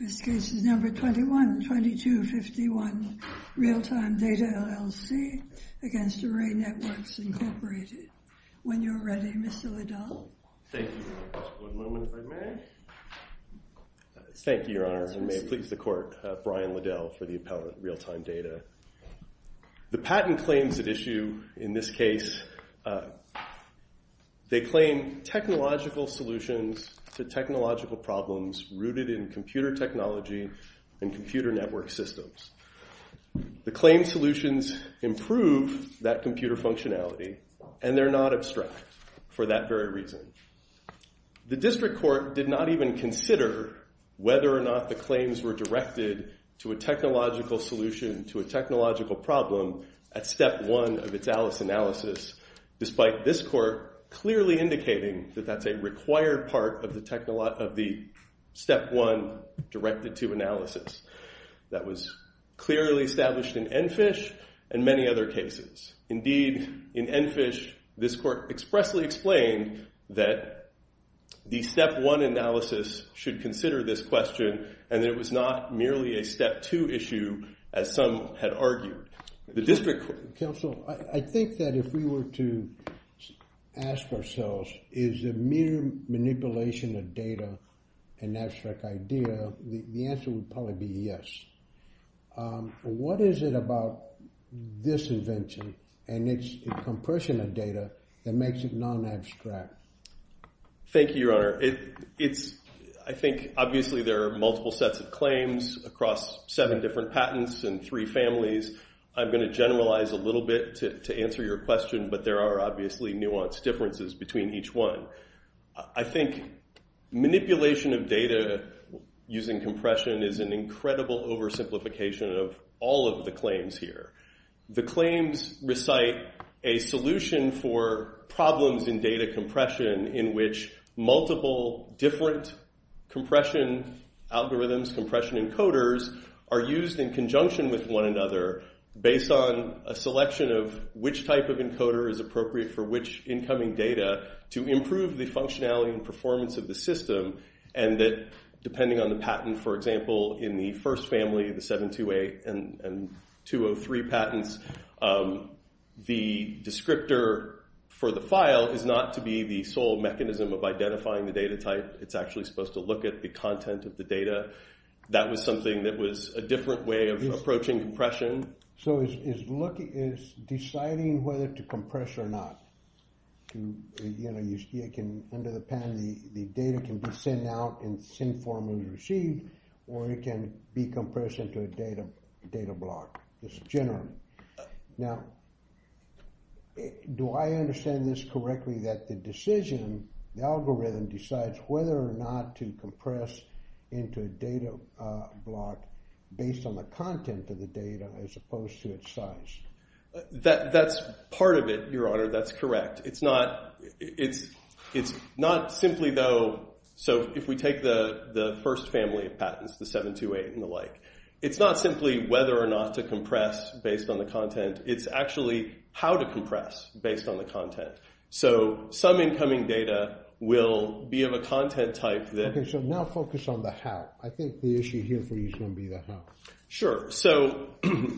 This case is number 21-2251, Realtime Data LLC against Array Networks, Incorporated. When you're ready, Mr. Liddell. Thank you, Your Honor. Mr. Woodman, if I may? Thank you, Your Honor. And may it please the court, Brian Liddell for the appellant, Realtime Data. The patent claims at issue in this case, they claim technological solutions to technological problems rooted in computer technology and computer network systems. The claim solutions improve that computer functionality, and they're not abstract for that very reason. The district court did not even consider whether or not the claims were directed to a technological solution to a technological problem at step one of its Alice analysis, despite this court clearly indicating that that's a required part of the step one directed to analysis that was clearly established in Enfish and many other cases. Indeed, in Enfish, this court expressly explained that the step one analysis should consider this question, and that it was not merely a step two issue, as some had argued. The district court. Counsel, I think that if we were to ask ourselves, is a mere manipulation of data an abstract idea, the answer would probably be yes. What is it about this invention and its compression of data that makes it non-abstract? Thank you, Your Honor. I think, obviously, there are multiple sets of claims across seven different patents and three families. I'm going to generalize a little bit to answer your question, but there are obviously nuanced differences between each one. I think manipulation of data using compression is an incredible oversimplification of all of the claims here. The claims recite a solution for problems in data compression in which multiple different compression algorithms, compression encoders, are used in conjunction with one another based on a selection of which type of encoder is appropriate for which incoming data to improve the functionality and performance of the system. And that, depending on the patent, for example, in the first family, the 728 and 203 patents, the descriptor for the file is not to be the sole mechanism of identifying the data type. It's actually supposed to look at the content of the data. That was something that was a different way of approaching compression. So it's deciding whether to compress or not. Under the patent, the data can be sent out in the same form it was received, or it can be compressed into a data block. It's general. Now, do I understand this correctly that the decision, the algorithm, decides whether or not to compress into a data block based on the content of the data as opposed to its size? That's part of it, Your Honor. That's correct. It's not simply, though, so if we take the first family of patents, the 728 and the like, it's not simply whether or not to compress based on the content. It's actually how to compress based on the content. So some incoming data will be of a content type that- OK, so now focus on the how. I think the issue here for you is going to be the how. Sure. So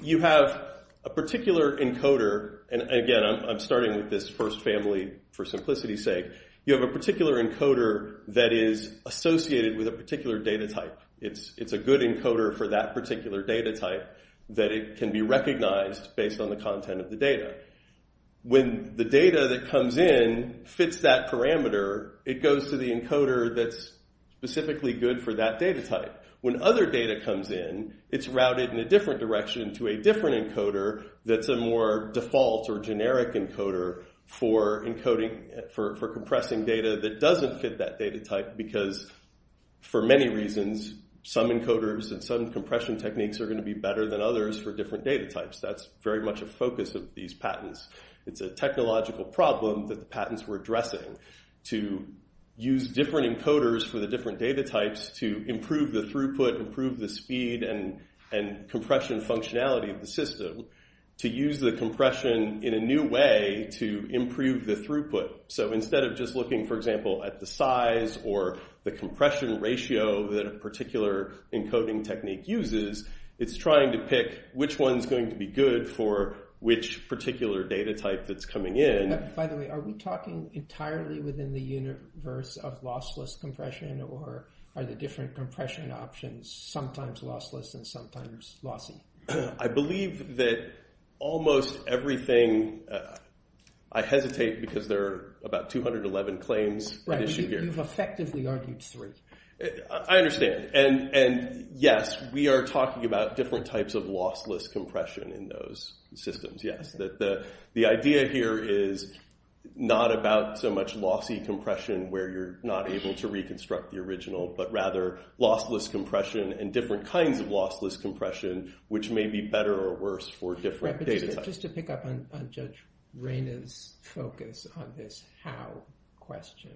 you have a particular encoder. And again, I'm starting with this first family for simplicity's sake. You have a particular encoder that is associated with a particular data type. It's a good encoder for that particular data type that it can be recognized based on the content of the data. When the data that comes in fits that parameter, it goes to the encoder that's specifically good for that data type. When other data comes in, it's routed in a different direction to a different encoder that's a more default or generic encoder for compressing data that doesn't fit that data type. Because for many reasons, some encoders and some compression techniques are going to be better than others for different data types. That's very much a focus of these patents. It's a technological problem that the patents were addressing to use different encoders for the different data types to improve the throughput, improve the speed and compression functionality of the system, to use the compression in a new way to improve the throughput. So instead of just looking, for example, at the size or the compression ratio that a particular encoding technique uses, it's trying to pick which one's going to be good for which particular data type that's coming in. By the way, are we talking entirely within the universe of lossless compression or are the different compression options sometimes lossless and sometimes lossy? I believe that almost everything, I hesitate because there are about 211 claims. Right, you've effectively argued three. I understand. And yes, we are talking about different types of lossless compression in those systems, yes. The idea here is not about so much lossy compression where you're not able to reconstruct the original, but rather lossless compression and different kinds of lossless compression, which may be better or worse for different data types. Just to pick up on Judge Reyna's focus on this how question,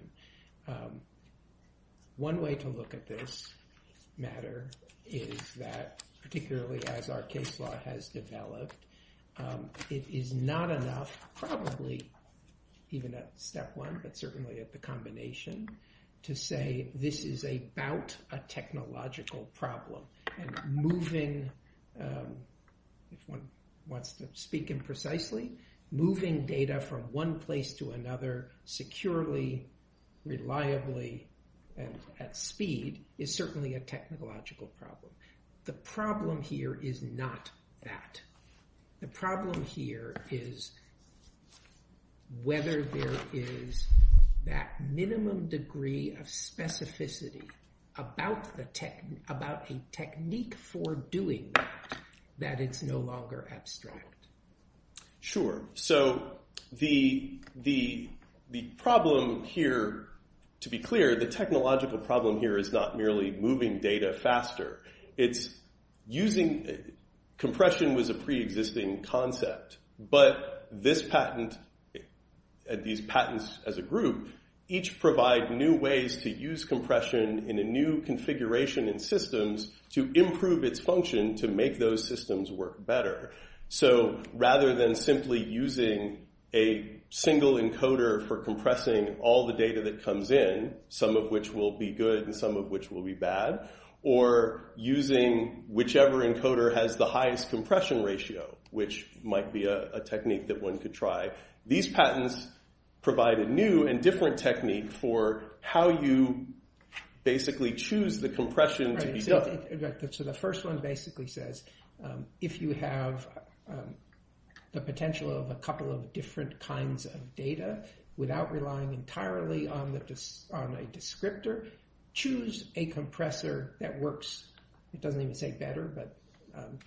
one way to look at this matter is that, particularly as our case law has developed, it is not enough probably even at step one, but certainly at the combination, to say this is about a technological problem. And moving, if one wants to speak imprecisely, moving data from one place to another securely, reliably, and at speed is certainly a technological problem. The problem here is not that. The problem here is whether there is that minimum degree of specificity about a technique for doing that, that it's no longer abstract. Sure, so the problem here, to be clear, the technological problem here is not merely moving data faster. It's using, compression was a preexisting concept, but this patent, these patents as a group, each provide new ways to use compression in a new configuration and systems to improve its function to make those systems work better. So rather than simply using a single encoder for compressing all the data that comes in, some of which will be good and some of which will be bad, or using whichever encoder has the highest compression ratio, which might be a technique that one could try. These patents provide a new and different technique for how you basically choose the compression to be done. So the first one basically says, if you have the potential of a couple of different kinds of data, without relying entirely on a descriptor, choose a compressor that works, it doesn't even say better, but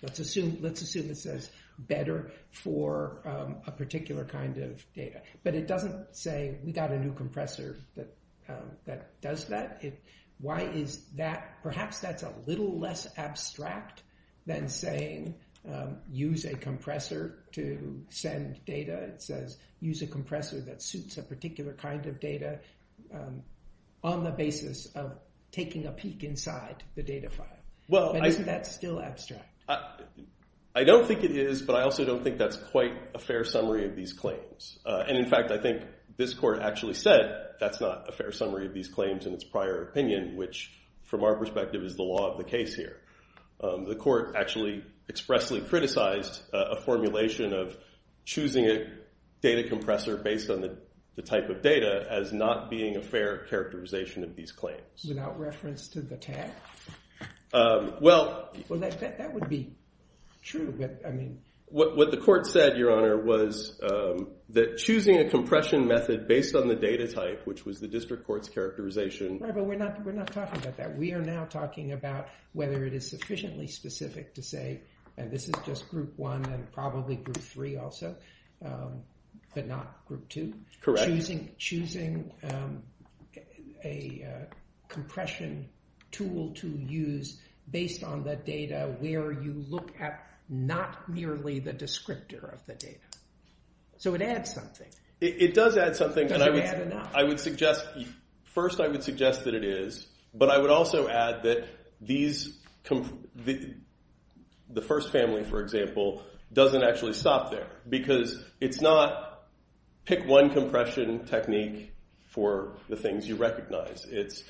let's assume it says better for a particular kind of data. But it doesn't say we got a new compressor that does that. Why is that? Perhaps that's a little less abstract than saying use a compressor to send data. It says use a compressor that suits a particular kind of data on the basis of taking a peek inside the data file. Well, isn't that still abstract? I don't think it is, but I also don't think that's quite a fair summary of these claims. And in fact, I think this court actually said that's not a fair summary of these claims in its prior opinion, which from our perspective is the law of the case here. The court actually expressly criticized a formulation of choosing a data compressor based on the type of data as not being a fair characterization of these claims. Without reference to the tag? Well. Well, that would be true, but I mean. What the court said, Your Honor, was that choosing a compression method based on the data type, which was the district court's characterization. Right, but we're not talking about that. We are now talking about whether it is sufficiently specific to say, and this is just group one and probably group three also, but not group two. Correct. Choosing a compression tool to use based on the data where you look at not merely the descriptor of the data. So it adds something. It does add something. Does it add enough? I would suggest, first I would suggest that it is, but I would also add that the first family, for example, doesn't actually stop there because it's not pick one compression technique for the things you recognize. It's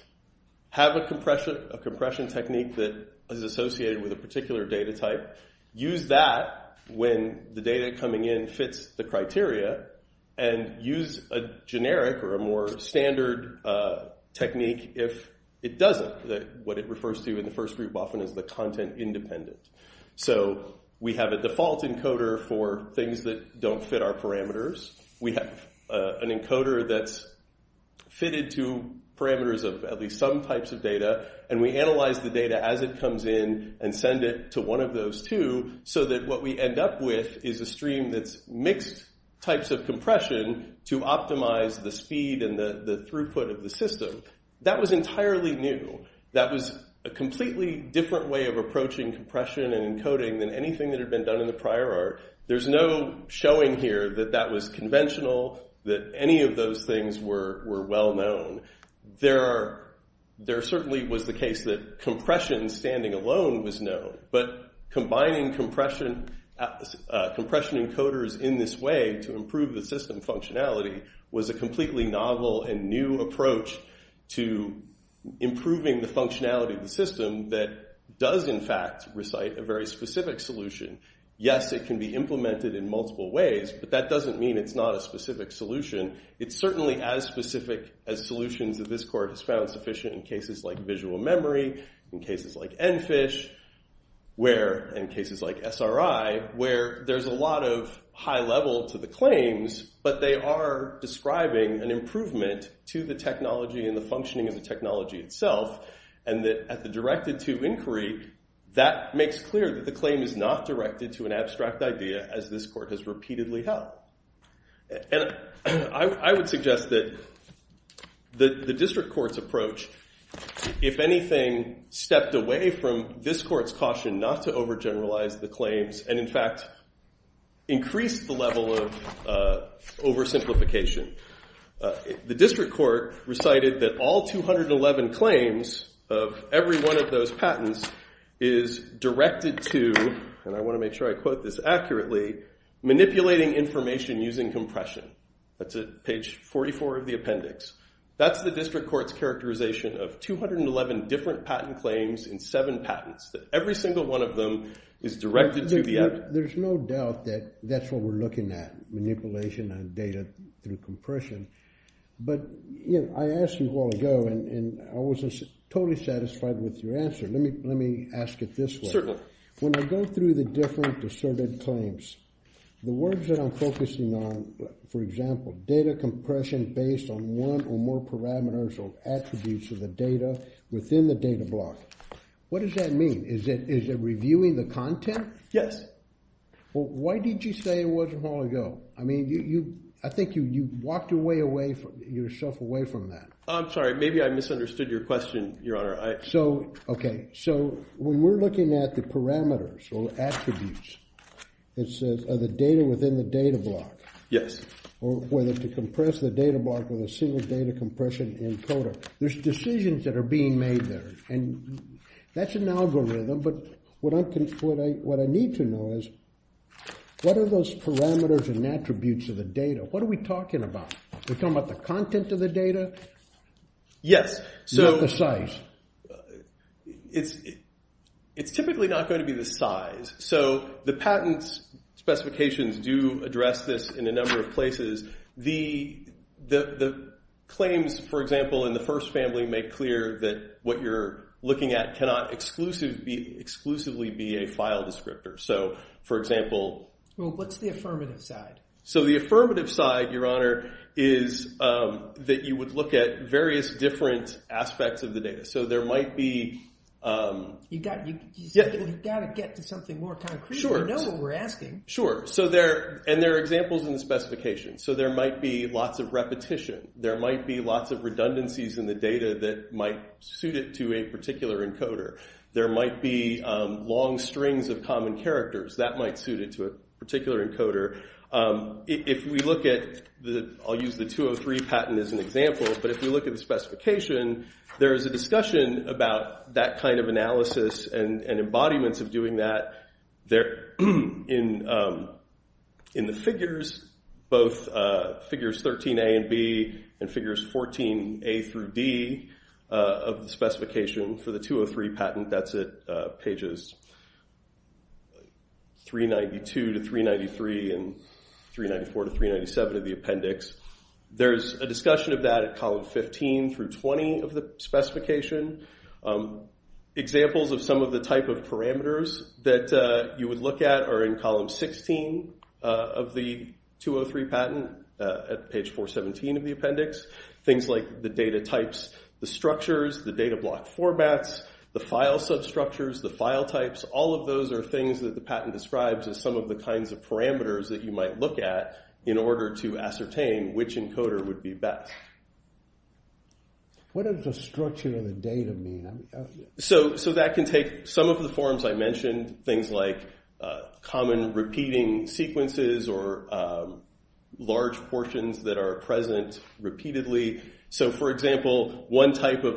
have a compression technique that is associated with a particular data type. Use that when the data coming in fits the criteria and use a generic or a more standard technique if it doesn't. What it refers to in the first group often is the content independent. So we have a default encoder for things that don't fit our parameters. We have an encoder that's fitted to parameters of at least some types of data and we analyze the data as it comes in and send it to one of those two so that what we end up with is a stream that's mixed types of compression to optimize the speed and the throughput of the system. That was entirely new. That was a completely different way of approaching compression and encoding than anything that had been done in the prior art. There's no showing here that that was conventional, that any of those things were well-known. There certainly was the case that compression standing alone was known, but combining compression encoders in this way to improve the system functionality was a completely novel and new approach to improving the functionality of the system that does, in fact, recite a very specific solution. Yes, it can be implemented in multiple ways, but that doesn't mean it's not a specific solution. It's certainly as specific as solutions that this court has found sufficient in cases like visual memory, in cases like EnFish, where, in cases like SRI, where there's a lot of high level to the claims, but they are describing an improvement to the technology and the functioning of the technology itself and that, at the directed to inquiry, that makes clear that the claim is not directed to an abstract idea, as this court has repeatedly held. And I would suggest that the district court's approach, if anything, stepped away from this court's caution not to overgeneralize the claims and, in fact, increased the level of oversimplification. The district court recited that all 211 claims of every one of those patents is directed to, and I want to make sure I quote this accurately, manipulating information using compression. That's at page 44 of the appendix. That's the district court's characterization of 211 different patent claims in seven patents, that every single one of them is directed to the app. There's no doubt that that's what we're looking at, manipulation of data through compression. But, you know, I asked you a while ago and I wasn't totally satisfied with your answer. Let me ask it this way. Certainly. When I go through the different asserted claims, the words that I'm focusing on, for example, data compression based on one or more parameters or attributes of the data within the data block, what does that mean? Is it reviewing the content? Yes. Well, why did you say it wasn't long ago? I mean, I think you walked your way away, yourself away from that. I'm sorry, maybe I misunderstood your question, your honor. So, okay. So when we're looking at the parameters or attributes, it says are the data within the data block. Yes. Or whether to compress the data block There's decisions that are being made there and that's an algorithm, but what I need to know is what are those parameters and attributes of the data? What are we talking about? We're talking about the content of the data? Yes. Not the size. It's typically not going to be the size. So the patents specifications do address this in a number of places. The claims, for example, in the first family make clear that what you're looking at cannot exclusively be a file descriptor. So, for example. Well, what's the affirmative side? So the affirmative side, your honor, is that you would look at various different aspects of the data. So there might be. You gotta get to something more concrete and know what we're asking. Sure. So there are examples in the specifications. So there might be lots of repetition. There might be lots of redundancies in the data that might suit it to a particular encoder. There might be long strings of common characters that might suit it to a particular encoder. If we look at the, I'll use the 203 patent as an example, but if we look at the specification, there is a discussion about that kind of analysis and embodiments of doing that there in the figures, both figures 13A and B and figures 14A through D of the specification for the 203 patent. That's at pages 392 to 393 and 394 to 397 of the appendix. There's a discussion of that at column 15 through 20 of the specification. Examples of some of the type of parameters that you would look at are in column 16 of the 203 patent at page 417 of the appendix. Things like the data types, the structures, the data block formats, the file substructures, the file types, all of those are things that the patent describes as some of the kinds of parameters that you might look at in order to ascertain which encoder would be best. What does the structure of the data mean? So that can take some of the forms I mentioned, things like common repeating sequences or large portions that are present repeatedly. So for example, one type of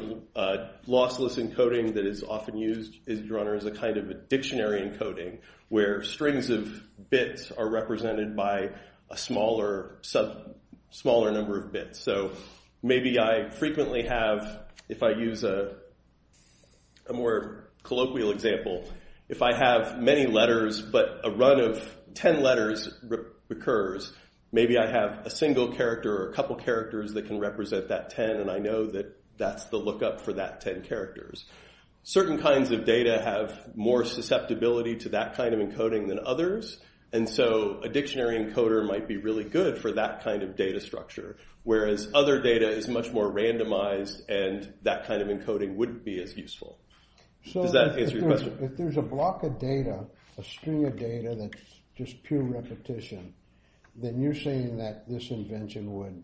lossless encoding that is often used is drawn as a kind of a dictionary encoding where strings of bits are represented by a smaller number of bits. So maybe I frequently have, if I use a more colloquial example, if I have many letters but a run of 10 letters occurs, maybe I have a single character or a couple characters that can represent that 10 and I know that that's the lookup for that 10 characters. Certain kinds of data have more susceptibility to that kind of encoding than others and so a dictionary encoder might be really good for that kind of data structure, whereas other data is much more randomized So does that answer your question? If there's a block of data, a string of data that's just pure repetition, then you're saying that this invention would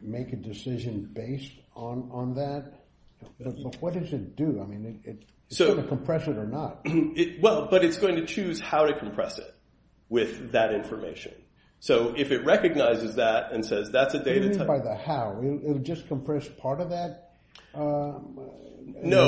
make a decision based on that? What does it do? I mean, it's gonna compress it or not. Well, but it's going to choose how to compress it with that information. So if it recognizes that and says that's a data type. You mean by the how? It'll just compress part of that? No.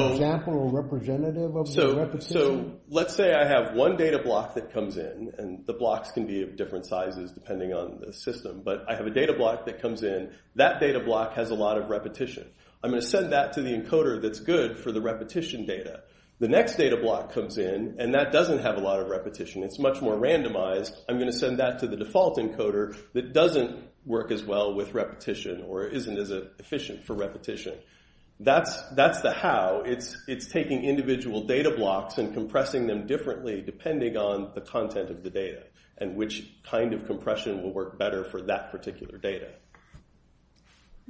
An example or representative of the repetition? Let's say I have one data block that comes in and the blocks can be of different sizes depending on the system, but I have a data block that comes in. That data block has a lot of repetition. I'm gonna send that to the encoder that's good for the repetition data. The next data block comes in and that doesn't have a lot of repetition. It's much more randomized. I'm gonna send that to the default encoder that doesn't work as well with repetition or isn't as efficient for repetition. That's the how. It's taking individual data blocks and compressing them differently depending on the content of the data and which kind of compression will work better for that particular data.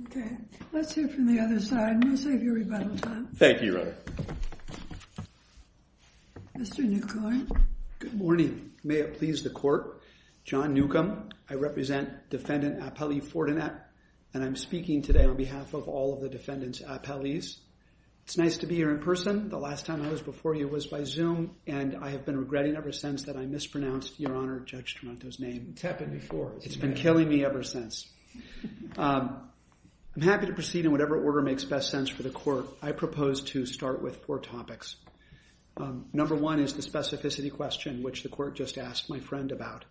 Okay. Let's hear from the other side. I'm gonna save you rebuttal time. Thank you, Your Honor. Mr. Newcomb. Good morning. May it please the court. John Newcomb. I represent defendant Apelli Fortinet and I'm speaking today on behalf of all of the defendants Apellis. It's nice to be here in person. The last time I was before you was by Zoom and I have been regretting ever since that I mispronounced, Your Honor, Judge Toronto's name. It's happened before. It's been killing me ever since. I'm happy to proceed in whatever order makes best sense for the court. I propose to start with four topics. Number one is the specificity question which the court just asked my friend about.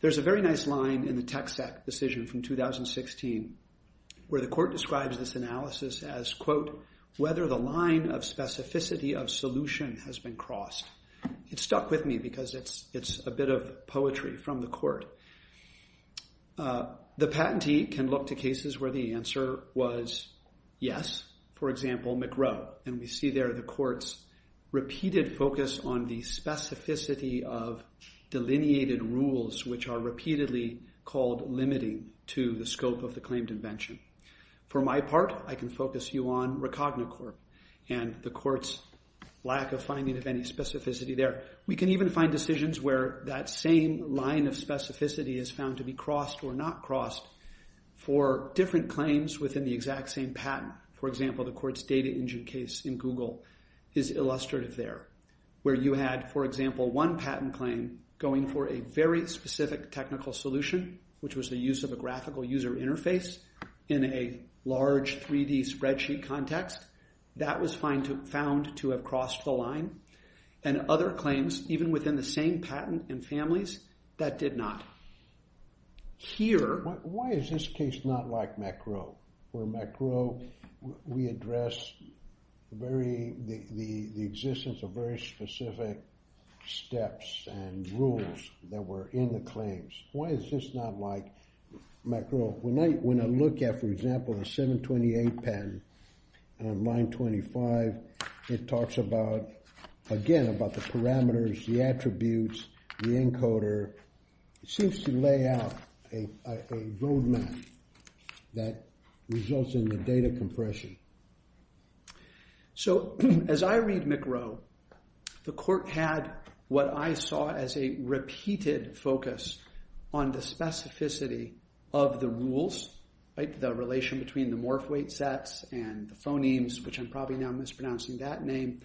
There's a very nice line in the Texact decision from 2016 where the court describes this analysis as quote, whether the line of specificity of solution has been crossed. It stuck with me because it's a bit of poetry from the court. The patentee can look to cases where the answer was yes. For example, McGraw. And we see there the court's repeated focus on the specificity of delineated rules which are repeatedly called limiting to the scope of the claimed invention. For my part, I can focus you on Racogna Court and the court's lack of finding of any specificity there. We can even find decisions where that same line of specificity is found to be crossed or not crossed for different claims within the exact same patent. For example, the court's data engine case in Google is illustrative there where you had, for example, one patent claim going for a very specific technical solution which was the use of a graphical user interface in a large 3D spreadsheet context. That was found to have crossed the line. And other claims, even within the same patent and families, that did not. Here. Why is this case not like McGraw? Where McGraw, we address the existence of very specific steps and rules that were in the claims. Why is this not like McGraw? When I look at, for example, a 728 patent and a 925, it talks about, again, about the parameters, the attributes, the encoder. It seems to lay out a roadmap that results in the data compression. So, as I read McGraw, the court had what I saw as a repeated focus on the specificity of the rules, the relation between the morph weight sets and the phonemes, which I'm probably now mispronouncing that name.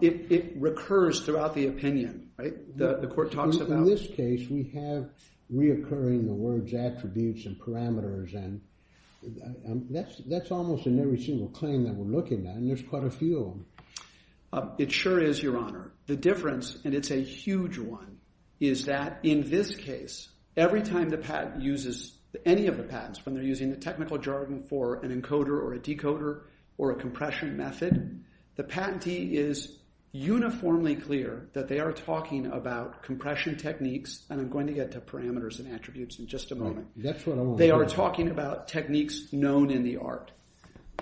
It recurs throughout the opinion. The court talks about. In this case, we have reoccurring the words attributes and parameters, and that's almost in every single claim that we're looking at, and there's quite a few of them. It sure is, Your Honor. The difference, and it's a huge one, is that in this case, every time the patent uses, any of the patents, when they're using the technical jargon for an encoder or a decoder or a compression method, the patentee is uniformly clear that they are talking about compression techniques, and I'm going to get to parameters and attributes in just a moment. They are talking about techniques known in the art.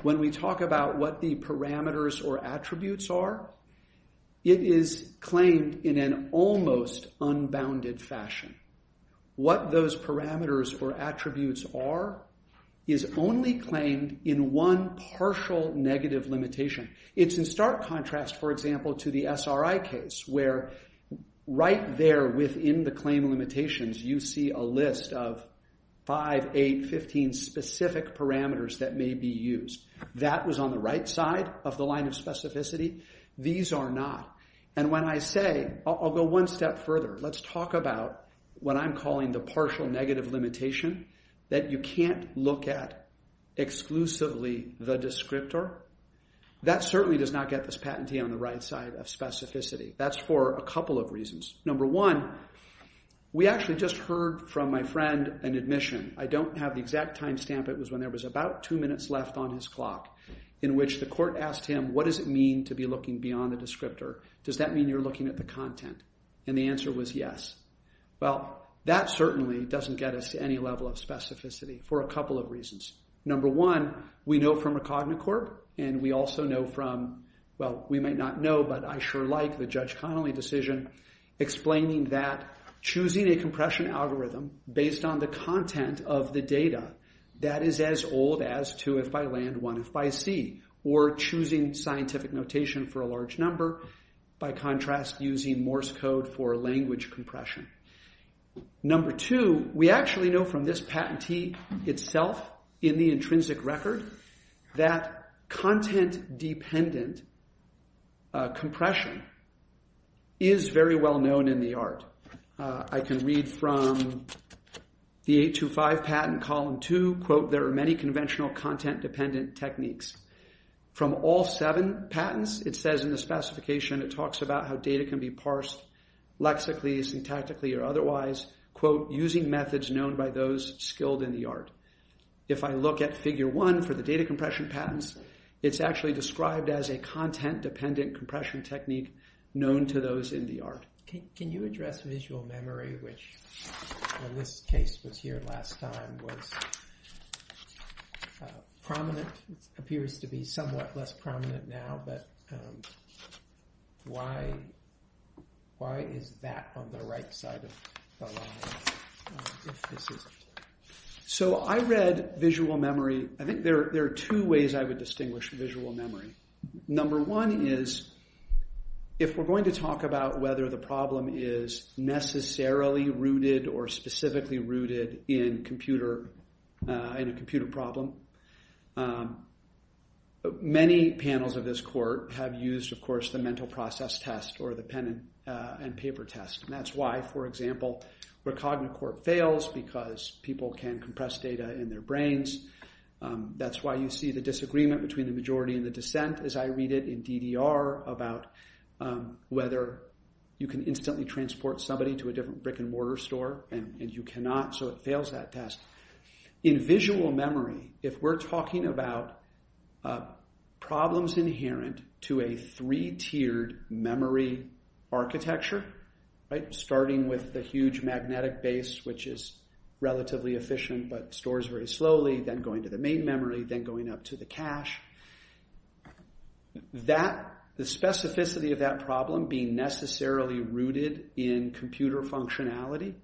When we talk about what the parameters or attributes are, it is claimed in an almost unbounded fashion. What those parameters or attributes are is only claimed in one partial negative limitation. It's in stark contrast, for example, to the SRI case, where right there within the claim limitations, you see a list of five, eight, 15 specific parameters that may be used. That was on the right side of the line of specificity. These are not, and when I say, I'll go one step further. Let's talk about what I'm calling the partial negative limitation that you can't look at exclusively the descriptor. That certainly does not get this patentee on the right side of specificity. That's for a couple of reasons. Number one, we actually just heard from my friend an admission. I don't have the exact timestamp. It was when there was about two minutes left on his clock in which the court asked him, what does it mean to be looking beyond the descriptor? Does that mean you're looking at the content? And the answer was yes. Well, that certainly doesn't get us to any level of specificity for a couple of reasons. Number one, we know from a CogniCorp and we also know from, well, we might not know, but I sure like the Judge Connolly decision explaining that choosing a compression algorithm based on the content of the data that is as old as two if by land, one if by sea, or choosing scientific notation for a large number by contrast using Morse code for language compression. Number two, we actually know from this patentee itself in the intrinsic record that content dependent compression is very well known in the art. I can read from the 825 patent column two, quote, there are many conventional content dependent techniques. From all seven patents, it says in the specification, it talks about how data can be parsed lexically, syntactically or otherwise, quote, using methods known by those skilled in the art. If I look at figure one for the data compression patents, it's actually described as a content dependent compression technique known to those in the art. Can you address visual memory, which in this case was here last time, was prominent, appears to be somewhat less prominent now, but why is that on the right side of the line? So I read visual memory, I think there are two ways I would distinguish visual memory. Number one is if we're going to talk about whether the problem is necessarily rooted or specifically rooted in a computer problem. Many panels of this court have used, of course, the mental process test or the pen and paper test. And that's why, for example, where Cognacourt fails because people can compress data in their brains. That's why you see the disagreement between the majority and the dissent as I read it in DDR about whether you can instantly transport somebody to a different brick and mortar store and you cannot, so it fails that test. In visual memory, if we're talking about problems inherent to a three tiered memory architecture, starting with the huge magnetic base, which is relatively efficient, but stores very slowly, then going to the main memory, then going up to the cache. That, the specificity of that problem being necessarily rooted in computer functionality,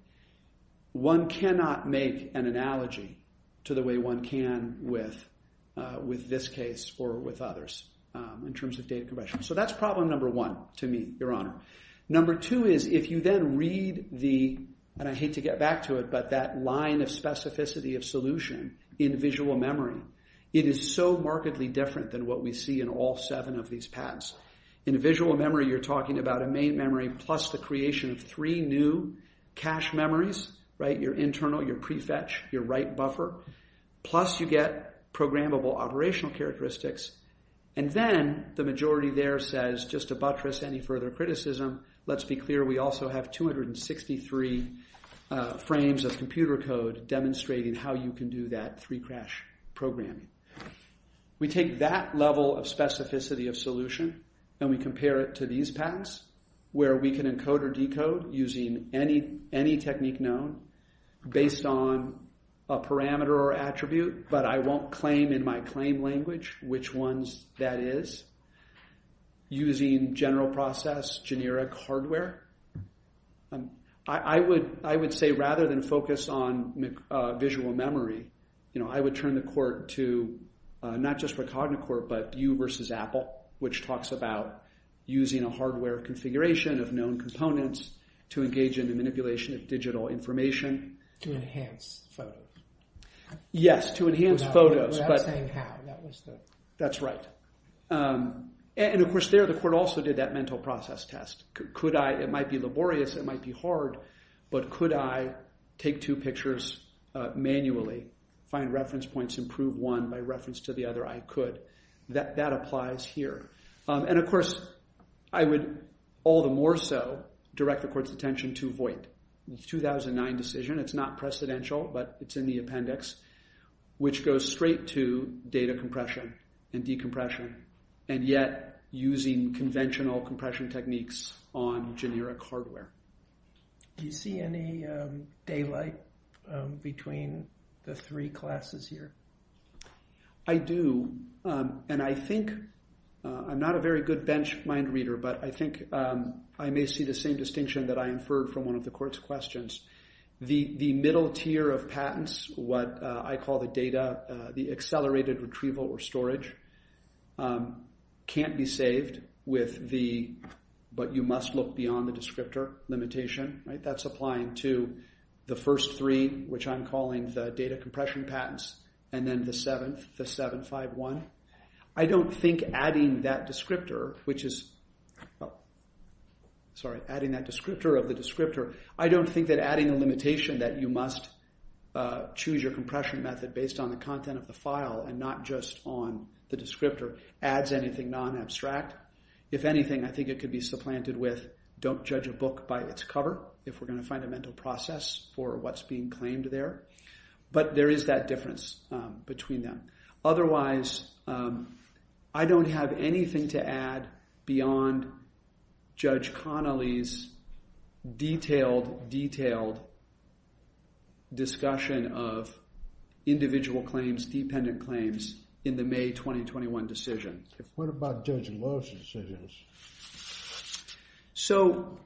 one cannot make an analogy to the way one can with this case or with others in terms of data compression. So that's problem number one to me, your honor. Number two is if you then read the, and I hate to get back to it, but that line of specificity of solution in visual memory, it is so markedly different than what we see in all seven of these patents. In visual memory, you're talking about a main memory plus the creation of three new cache memories, right? Your internal, your prefetch, your write buffer, plus you get programmable operational characteristics, and then the majority there says, just to buttress any further criticism, let's be clear, we also have 263 frames of computer code demonstrating how you can do that three crash programming. We take that level of specificity of solution and we compare it to these patents, where we can encode or decode using any technique known based on a parameter or attribute, but I won't claim in my claim language which ones that is, using general process, generic hardware, I would say rather than focus on visual memory, I would turn the court to not just for CogniCorp, but you versus Apple, which talks about using a hardware configuration of known components to engage in the manipulation of digital information. To enhance photo. Yes, to enhance photos, but. Without saying how, that was the. That's right, and of course there, the court also did that mental process test. Could I, it might be laborious, it might be hard, but could I take two pictures manually, find reference points, improve one by reference to the other, I could. That applies here, and of course, I would all the more so direct the court's attention to Voight, the 2009 decision. It's not precedential, but it's in the appendix, which goes straight to data compression and decompression, and yet using conventional compression techniques on generic hardware. Do you see any daylight between the three classes here? I do, and I think, I'm not a very good bench mind reader, but I think I may see the same distinction that I inferred from one of the court's questions. The middle tier of patents, what I call the data, the accelerated retrieval or storage, can't be saved with the, but you must look beyond the descriptor limitation. That's applying to the first three, which I'm calling the data compression patents, and then the seventh, the 751. I don't think adding that descriptor, which is, sorry, adding that descriptor of the descriptor, I don't think that adding a limitation that you must choose your compression method based on the content of the file and not just on the descriptor adds anything non-abstract. If anything, I think it could be supplanted with, don't judge a book by its cover, if we're gonna find a mental process for what's being claimed there. But there is that difference between them. Otherwise, I don't have anything to add beyond Judge Connolly's detailed, detailed discussion of individual claims, dependent claims in the May 2021 decision. What about Judge Love's decision? So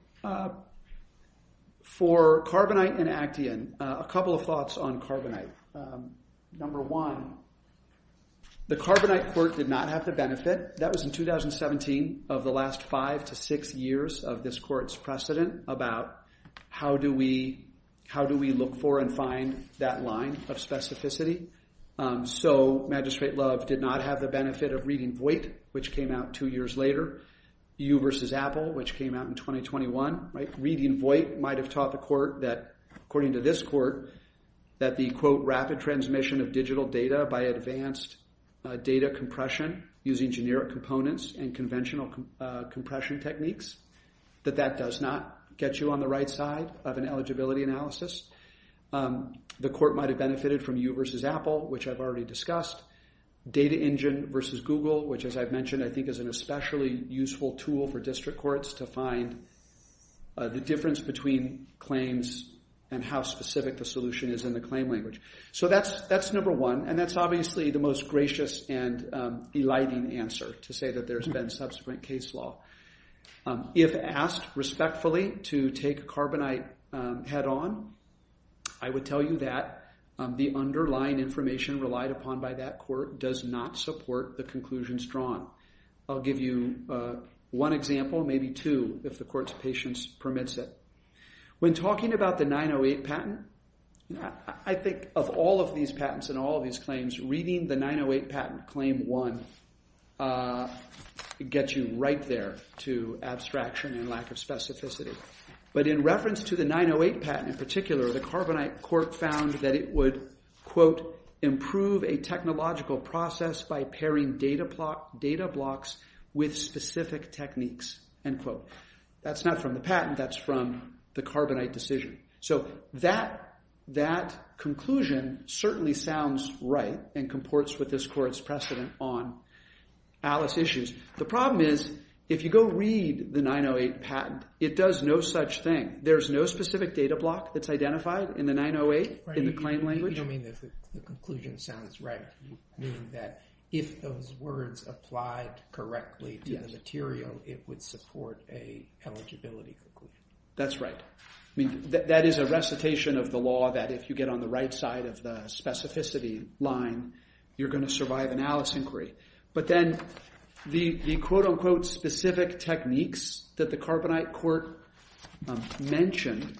for Carbonite and Action, a couple of thoughts on Carbonite. Number one, the Carbonite court did not have the benefit. That was in 2017 of the last five to six years of this court's precedent about how do we look for and find that line of specificity. So Magistrate Love did not have the benefit of reading Voight, which came out two years later. You versus Apple, which came out in 2021. Reading Voight might've taught the court that according to this court, that the quote rapid transmission of digital data by advanced data compression using generic components and conventional compression techniques, that that does not get you on the right side of an eligibility analysis. The court might've benefited from you versus Apple, which I've already discussed. Data Engine versus Google, which as I've mentioned, I think is an especially useful tool for district courts to find the difference between claims and how specific the solution is in the claim language. So that's number one. And that's obviously the most gracious and eliding answer to say that there's been subsequent case law. If asked respectfully to take Carbonite head on, I would tell you that the underlying information relied upon by that court does not support the conclusions drawn. I'll give you one example, maybe two, if the court's patience permits it. When talking about the 908 patent, I think of all of these patents and all of these claims, reading the 908 patent, claim one, gets you right there to abstraction and lack of specificity. But in reference to the 908 patent in particular, the Carbonite court found that it would, quote, improve a technological process by pairing data blocks with specific techniques, end quote. That's not from the patent, that's from the Carbonite decision. So that conclusion certainly sounds right and comports with this court's precedent on Alice issues. The problem is if you go read the 908 patent, it does no such thing. There's no specific data block that's identified in the 908 in the claim language. You don't mean that the conclusion sounds right, you mean that if those words applied correctly to the material, it would support a eligibility conclusion. That's right. That is a recitation of the law that if you get on the right side of the specificity line, you're gonna survive an Alice inquiry. But then the, quote, unquote, specific techniques that the Carbonite court mentioned,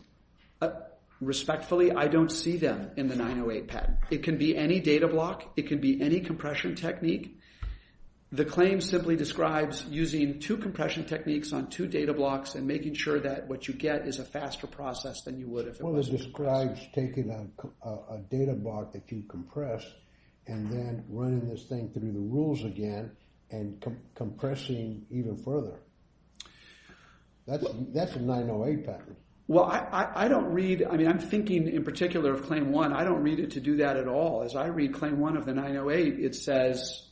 respectfully, I don't see them in the 908 patent. It can be any data block, it can be any compression technique. The claim simply describes using two compression techniques on two data blocks and making sure that what you get is a faster process than you would if it was. Well, it describes taking a data block that you compress and then running this thing through the rules again and compressing even further. That's a 908 patent. Well, I don't read, I mean, I'm thinking in particular of Claim 1, I don't read it to do that at all. As I read Claim 1 of the 908, it says,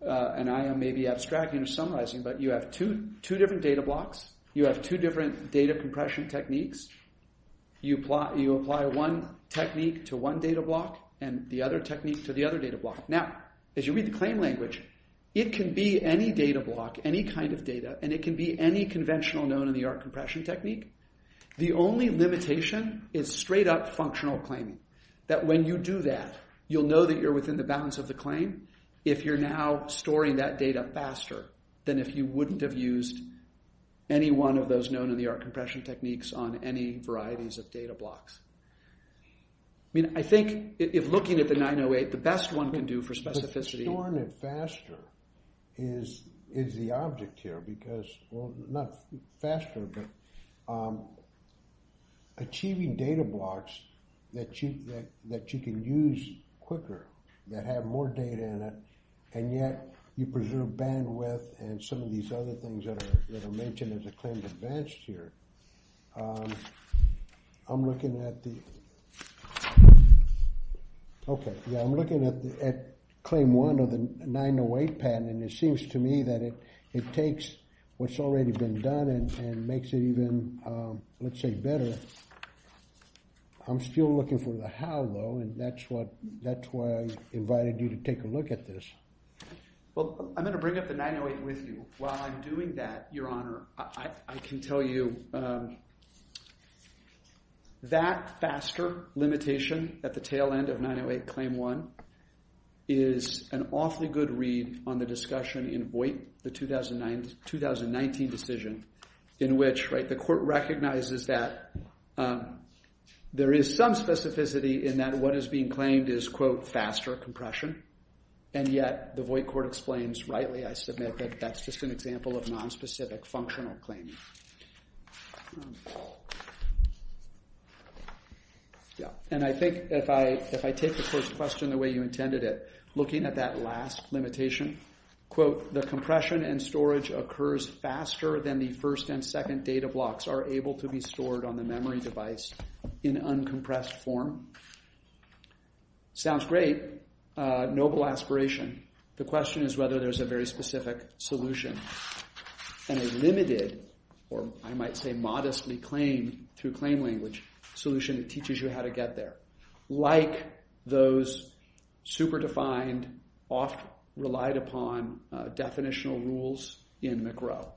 and I am maybe abstracting or summarizing, but you have two different data blocks, you have two different data compression techniques, you apply one technique to one data block and the other technique to the other data block. Now, as you read the claim language, it can be any data block, any kind of data, and it can be any conventional known-in-the-art compression technique. The only limitation is straight-up functional claiming, that when you do that, you'll know that you're within the bounds of the claim if you're now storing that data faster than if you wouldn't have used any one of those known-in-the-art compression techniques on any varieties of data blocks. I mean, I think if looking at the 908, the best one can do for specificity. Storing it faster is the object here because, well, not faster, but achieving data blocks that you can use quicker, that have more data in it, and yet you preserve bandwidth and some of these other things that are mentioned as a claim advanced here. I'm looking at the, okay, yeah, I'm looking at claim one of the 908 patent, and it seems to me that it takes what's already been done and makes it even, let's say, better. I'm still looking for the how, though, and that's why I invited you to take a look at this. Well, I'm gonna bring up the 908 with you. While I'm doing that, Your Honor, I can tell you that that faster limitation at the tail end of 908 claim one is an awfully good read on the discussion in Voight, the 2019 decision, in which the court recognizes that there is some specificity in that what is being claimed is, quote, faster compression, and yet the Voight court explains, rightly, I submit, that that's just an example of nonspecific functional claiming. Yeah, and I think if I take the court's question the way you intended it, looking at that last limitation, quote, the compression and storage occurs faster than the first and second data blocks are able to be stored on the memory device in uncompressed form, sounds great, noble aspiration. The question is whether there's a very specific solution and a limited, or I might say modestly claimed through claim language, solution that teaches you how to get there. Like those super defined, often relied upon definitional rules in McGraw.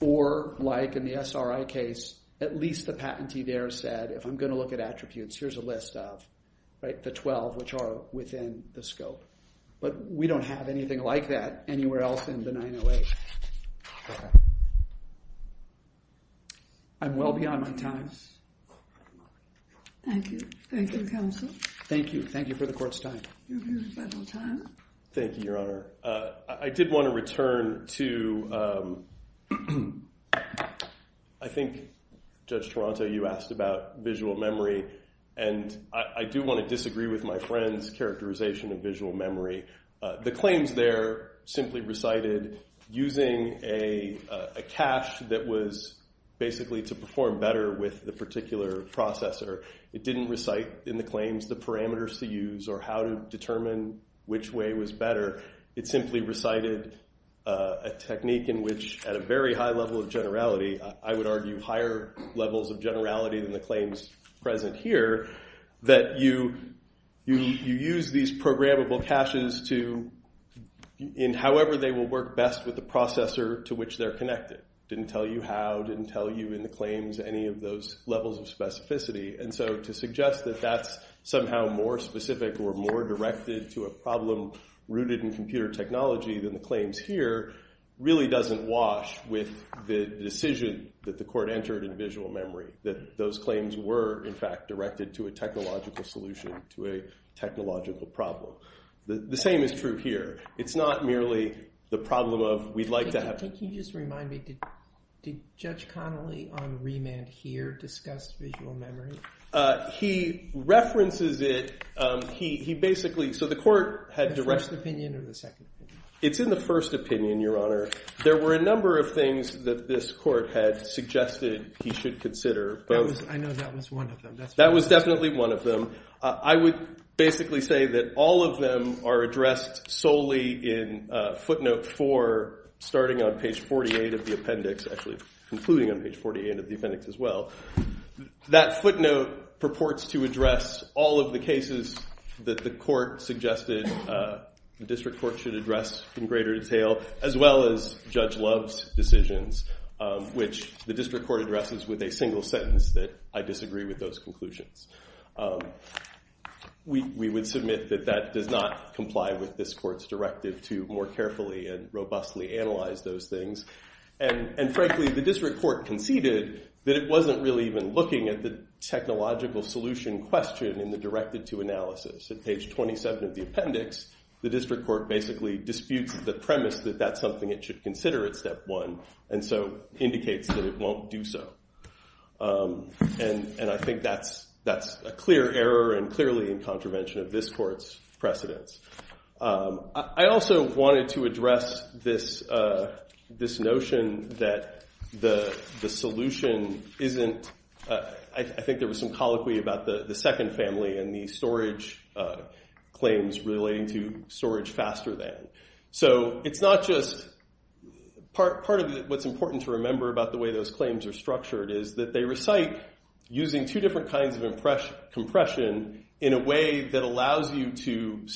Or like in the SRI case, at least the patentee there said, if I'm gonna look at attributes, here's a list of, like the 12 which are within the scope. But we don't have anything like that anywhere else in the 908. I'm well beyond my times. Thank you, thank you counsel. Thank you, thank you for the court's time. Your very special time. Thank you, your honor. I did wanna return to, I think Judge Toronto, you asked about visual memory. And I do wanna disagree with my friend's characterization of visual memory. The claims there simply recited using a cache that was basically to perform better with the particular processor. It didn't recite in the claims the parameters to use or how to determine which way was better. It simply recited a technique in which at a very high level of generality, I would argue higher levels of generality than the claims present here, that you use these programmable caches to, in however they will work best with the processor to which they're connected. Didn't tell you how, didn't tell you in the claims any of those levels of specificity. And so to suggest that that's somehow more specific or more directed to a problem rooted in computer technology than the claims here, really doesn't wash with the decision that the court entered in visual memory. That those claims were, in fact, directed to a technological solution, to a technological problem. The same is true here. It's not merely the problem of we'd like to have. Can you just remind me, did Judge Connolly on remand here discuss visual memory? He references it, he basically, so the court had direct. The first opinion or the second opinion? It's in the first opinion, Your Honor. There were a number of things that this court had suggested he should consider. I know that was one of them. That was definitely one of them. I would basically say that all of them are addressed solely in footnote four, starting on page 48 of the appendix, actually concluding on page 48 of the appendix as well. That footnote purports to address all of the cases that the court suggested the district court should address in greater detail, as well as Judge Love's decisions, which the district court addresses with a single sentence that I disagree with those conclusions. We would submit that that does not comply with this court's directive to more carefully and robustly analyze those things. And frankly, the district court conceded that it wasn't really even looking at the technological solution question in the directed to analysis. At page 27 of the appendix, the district court basically disputes the premise that that's something it should consider at step one, and so indicates that it won't do so. And I think that's a clear error and clearly in contravention of this court's precedence. I also wanted to address this notion that the solution isn't, I think there was some colloquy about the second family and the storage claims relating to storage faster than. So it's not just part of what's important to remember about the way those claims are structured is that they recite using two different kinds of compression in a way that allows you to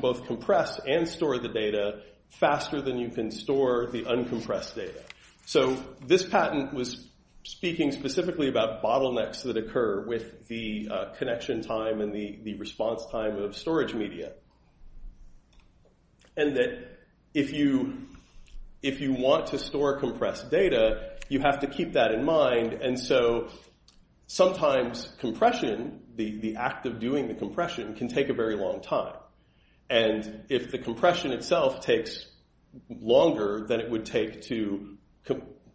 both compress and store the data faster than you can store the uncompressed data. So this patent was speaking specifically about bottlenecks that occur with the connection time and the response time of storage media. And that if you want to store compressed data, you have to keep that in mind. And so sometimes compression, the act of doing the compression, can take a very long time. And if the compression itself takes longer than it would take to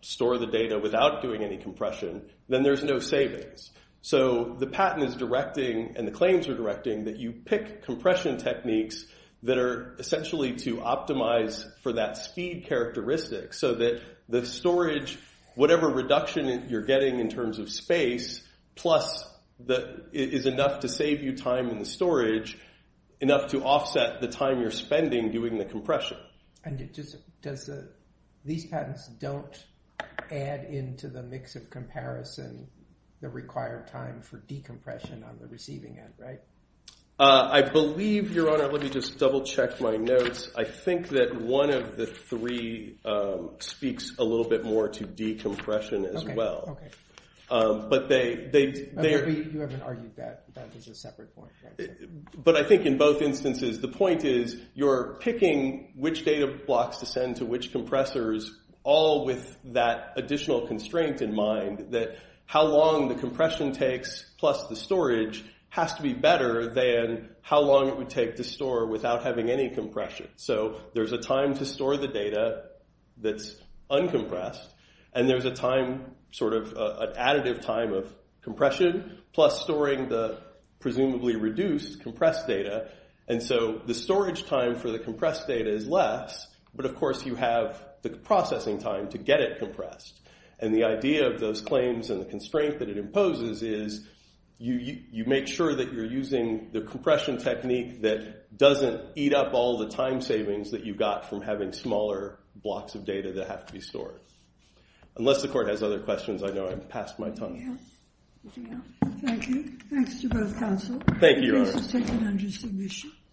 store the data without doing any compression, then there's no savings. So the patent is directing and the claims are directing that you pick compression techniques that are essentially to optimize for that speed characteristic so that the storage, whatever reduction you're getting in terms of space, plus is enough to save you time in the storage, enough to offset the time you're spending doing the compression. And these patents don't add into the mix of comparison the required time for decompression on the receiving end, right? I believe, Your Honor, let me just double check my notes. I think that one of the three speaks a little bit more to decompression as well. But they're there. You haven't argued that that is a separate point, right? But I think in both instances, the point is you're picking which data blocks to send to which compressors all with that additional constraint in mind that how long the compression takes plus the storage has to be better than how long it would take to store without having any compression. So there's a time to store the data that's uncompressed. And there's an additive time of compression plus storing the presumably reduced compressed data. And so the storage time for the compressed data is less. But of course, you have the processing time to get it compressed. And the idea of those claims and the constraint that it imposes is you make sure that you're using the compression technique that doesn't eat up all the time savings that you've got from having smaller blocks of data that have to be stored. Unless the court has other questions, I know I'm past my time. Thank you. Thanks to both counsel. Thank you, Your Honor. The case is taken under submission.